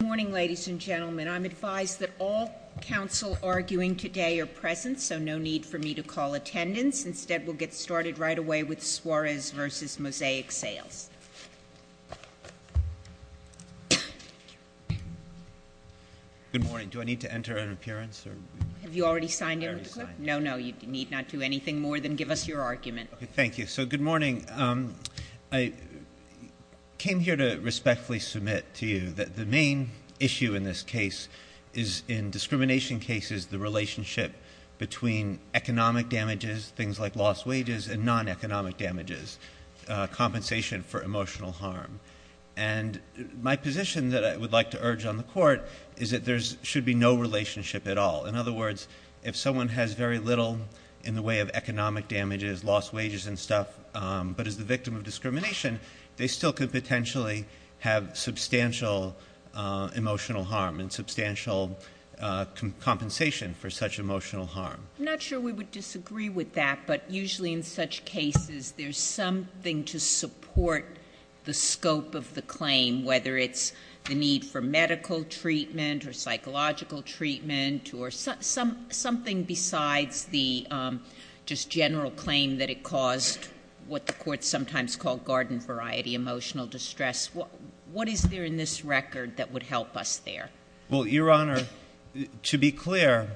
Good morning, ladies and gentlemen. I'm advised that all counsel arguing today are present, so no need for me to call attendance. Instead, we'll get started right away with Suarez v. Mosaic Sales. Good morning. Do I need to enter an appearance? Have you already signed in with the group? No, no. You need not do anything more than give us your argument. Thank you. So, good morning. I came here to respectfully submit to you that the main issue in this case is, in discrimination cases, the relationship between economic damages, things like lost wages, and non-economic damages, compensation for emotional harm. And my position that I would like to urge on the Court is that there should be no relationship at all. In other words, if someone has very little in the way of economic damages, lost wages and stuff, but is the victim of discrimination, they still could potentially have substantial emotional harm and substantial compensation for such emotional harm. I'm not sure we would disagree with that, but usually in such cases, there's something to support the scope of the claim, whether it's the need for medical treatment or psychological treatment, or something besides the just general claim that it caused what the Court sometimes called garden-variety emotional distress. What is there in this record that would help us there? Well, Your Honor, to be clear,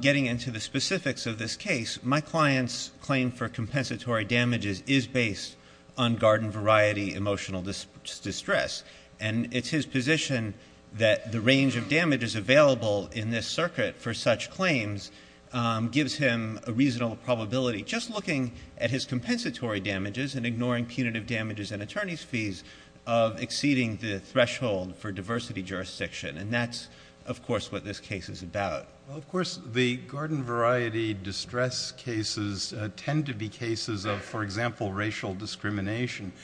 getting into the specifics of this case, my client's claim for compensatory damages is based on garden-variety emotional distress. And it's his position that the range of damages available in this circuit for such claims gives him a reasonable probability, just looking at his compensatory damages and ignoring punitive damages and attorney's fees, of exceeding the threshold for diversity jurisdiction. And that's, of course, what this case is about. Well, of course, the garden-variety distress cases tend to be cases of, for example, racial discrimination.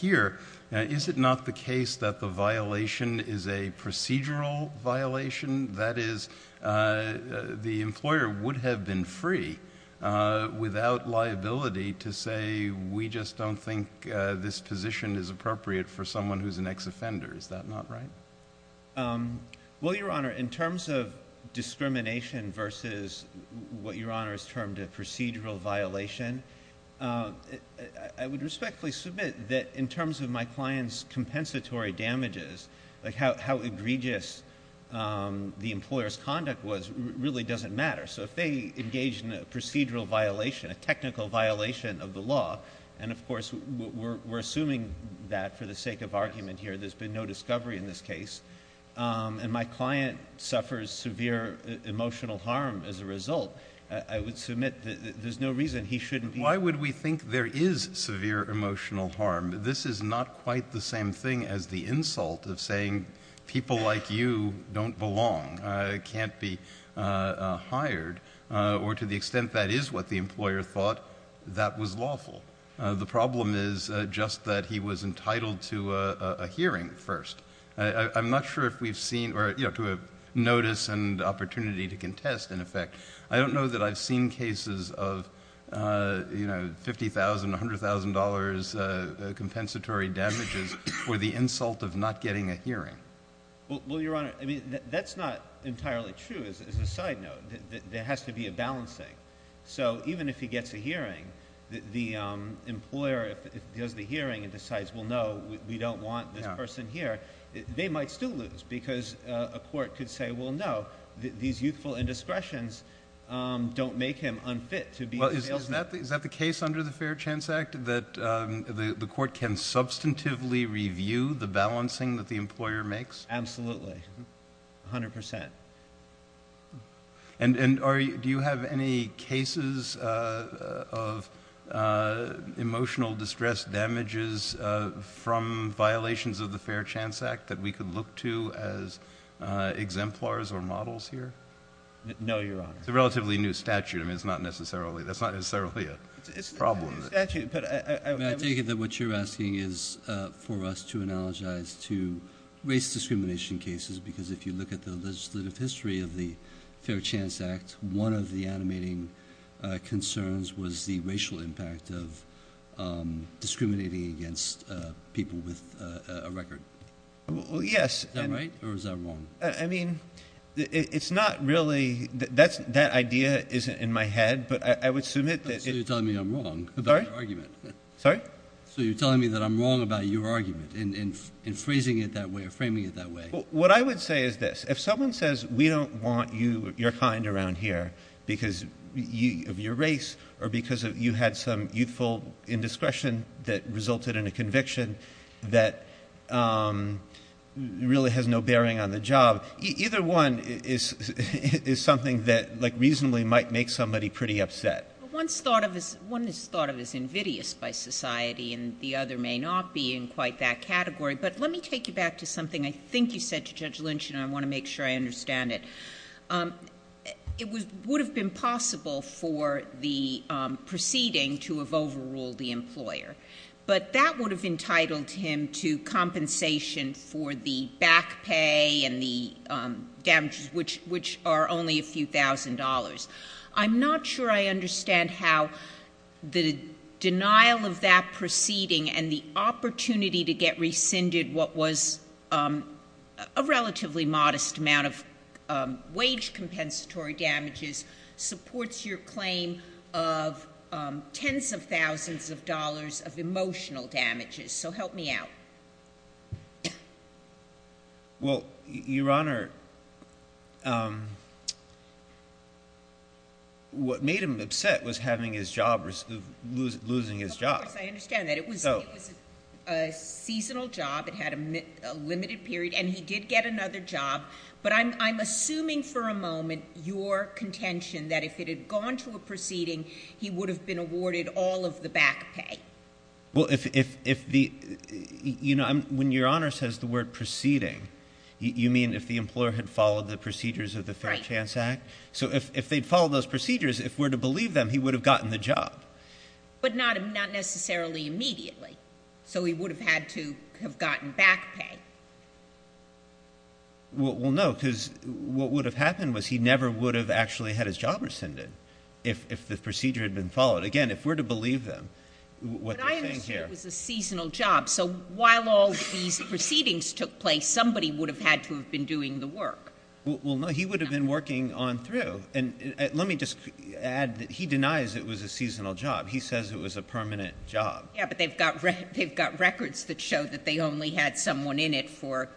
Here, is it not the case that the violation is a procedural violation? That is, the employer would have been free without liability to say, we just don't think this position is appropriate for someone who's an ex-offender. Is that not right? Well, Your Honor, in terms of discrimination versus what Your Honor has termed a procedural violation, I would respectfully submit that in terms of my client's compensatory damages, like how egregious the employer's conduct was, really doesn't matter. So if they engage in a procedural violation, a technical violation of the law, and, of course, we're assuming that for the sake of argument here. There's been no discovery in this case. And my client suffers severe emotional harm as a result. I would submit that there's no reason he shouldn't be. Why would we think there is severe emotional harm? This is not quite the same thing as the insult of saying people like you don't belong, can't be hired, or to the extent that is what the employer thought, that was lawful. The problem is just that he was entitled to a hearing first. I'm not sure if we've seen, or, you know, to a notice and opportunity to contest, in effect. I don't know that I've seen cases of, you know, $50,000, $100,000 compensatory damages for the insult of not getting a hearing. Well, Your Honor, I mean, that's not entirely true as a side note. There has to be a balancing. So even if he gets a hearing, the employer, if he does the hearing and decides, well, no, we don't want this person here, they might still lose because a court could say, well, no, these youthful indiscretions don't make him unfit to be a bailiff. Well, is that the case under the Fair Chance Act, that the court can substantively review the balancing that the employer makes? Absolutely, 100%. And do you have any cases of emotional distress damages from violations of the Fair Chance Act that we could look to as exemplars or models here? No, Your Honor. It's a relatively new statute. I mean, it's not necessarily a problem. I take it that what you're asking is for us to analogize to race discrimination cases because if you look at the legislative history of the Fair Chance Act, one of the animating concerns was the racial impact of discriminating against people with a record. Well, yes. Is that right or is that wrong? I mean, it's not really that idea is in my head, but I would submit that it's not. So you're telling me I'm wrong about your argument. Sorry? So you're telling me that I'm wrong about your argument in phrasing it that way or framing it that way. What I would say is this. If someone says we don't want your kind around here because of your race or because you had some youthful indiscretion that resulted in a conviction that really has no bearing on the job, either one is something that reasonably might make somebody pretty upset. One is thought of as invidious by society, and the other may not be in quite that category. But let me take you back to something I think you said to Judge Lynch, and I want to make sure I understand it. It would have been possible for the proceeding to have overruled the employer, but that would have entitled him to compensation for the back pay and the damages, which are only a few thousand dollars. I'm not sure I understand how the denial of that proceeding and the opportunity to get rescinded what was a relatively modest amount of wage compensatory damages supports your claim of tens of thousands of dollars of emotional damages. So help me out. Well, Your Honor, what made him upset was losing his job. Of course, I understand that. It was a seasonal job. It had a limited period, and he did get another job. But I'm assuming for a moment your contention that if it had gone to a proceeding, he would have been awarded all of the back pay. Well, if the ñ you know, when Your Honor says the word proceeding, you mean if the employer had followed the procedures of the Fair Chance Act? Right. So if they'd followed those procedures, if we're to believe them, he would have gotten the job. But not necessarily immediately. So he would have had to have gotten back pay. Well, no, because what would have happened was he never would have actually had his job rescinded if the procedure had been followed. Again, if we're to believe them, what they're saying here ñ But I understand it was a seasonal job. So while all these proceedings took place, somebody would have had to have been doing the work. Well, no, he would have been working on through. And let me just add that he denies it was a seasonal job. He says it was a permanent job. Yeah, but they've got records that show that they only had someone in it for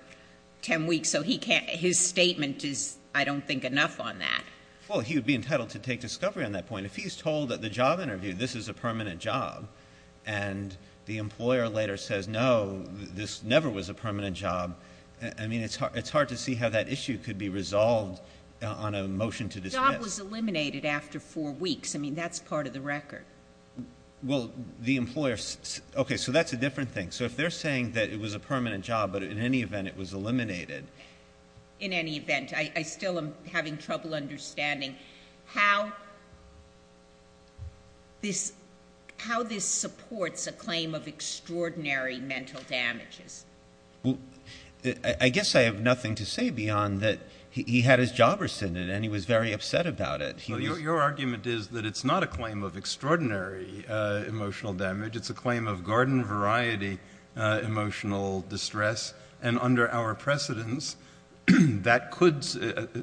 10 weeks, so he can't ñ his statement is, I don't think, enough on that. Well, he would be entitled to take discovery on that point. I mean, if he's told at the job interview this is a permanent job and the employer later says, no, this never was a permanent job, I mean, it's hard to see how that issue could be resolved on a motion to dismiss. The job was eliminated after four weeks. I mean, that's part of the record. Well, the employer ñ okay, so that's a different thing. So if they're saying that it was a permanent job, but in any event it was eliminated. In any event, I still am having trouble understanding how this supports a claim of extraordinary mental damages. Well, I guess I have nothing to say beyond that he had his job rescinded and he was very upset about it. Well, your argument is that it's not a claim of extraordinary emotional damage. It's a claim of garden-variety emotional distress. And under our precedence,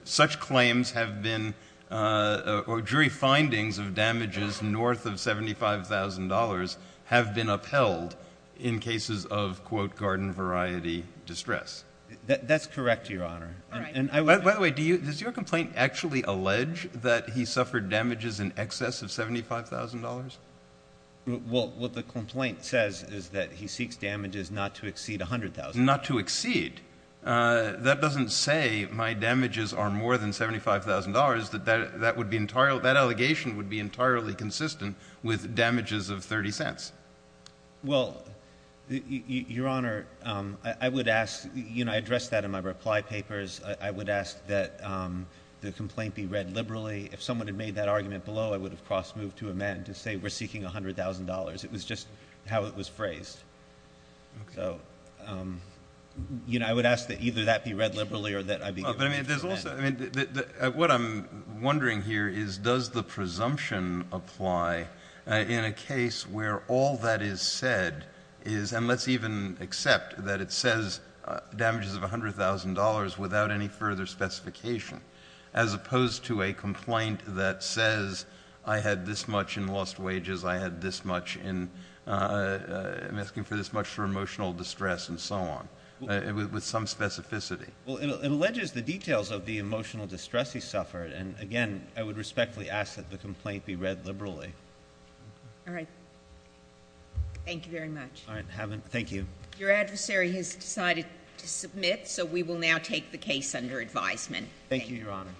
such claims have been or jury findings of damages north of $75,000 have been upheld in cases of, quote, garden-variety distress. That's correct, Your Honor. By the way, does your complaint actually allege that he suffered damages in excess of $75,000? Well, what the complaint says is that he seeks damages not to exceed $100,000. Not to exceed? That doesn't say my damages are more than $75,000. That would be entirely ñ that allegation would be entirely consistent with damages of $0.30. Well, Your Honor, I would ask ñ you know, I addressed that in my reply papers. I would ask that the complaint be read liberally. If someone had made that argument below, I would have cross-moved to amend to say we're seeking $100,000. It was just how it was phrased. Okay. So, you know, I would ask that either that be read liberally or that I be able to amend. What I'm wondering here is does the presumption apply in a case where all that is said is, and let's even accept that it says damages of $100,000 without any further specification as opposed to a complaint that says I had this much in lost wages, I had this much in ñ I'm asking for this much for emotional distress and so on, with some specificity. Well, it alleges the details of the emotional distress he suffered. And, again, I would respectfully ask that the complaint be read liberally. All right. Thank you very much. All right. Thank you. Your adversary has decided to submit, so we will now take the case under advisement. Thank you, Your Honor.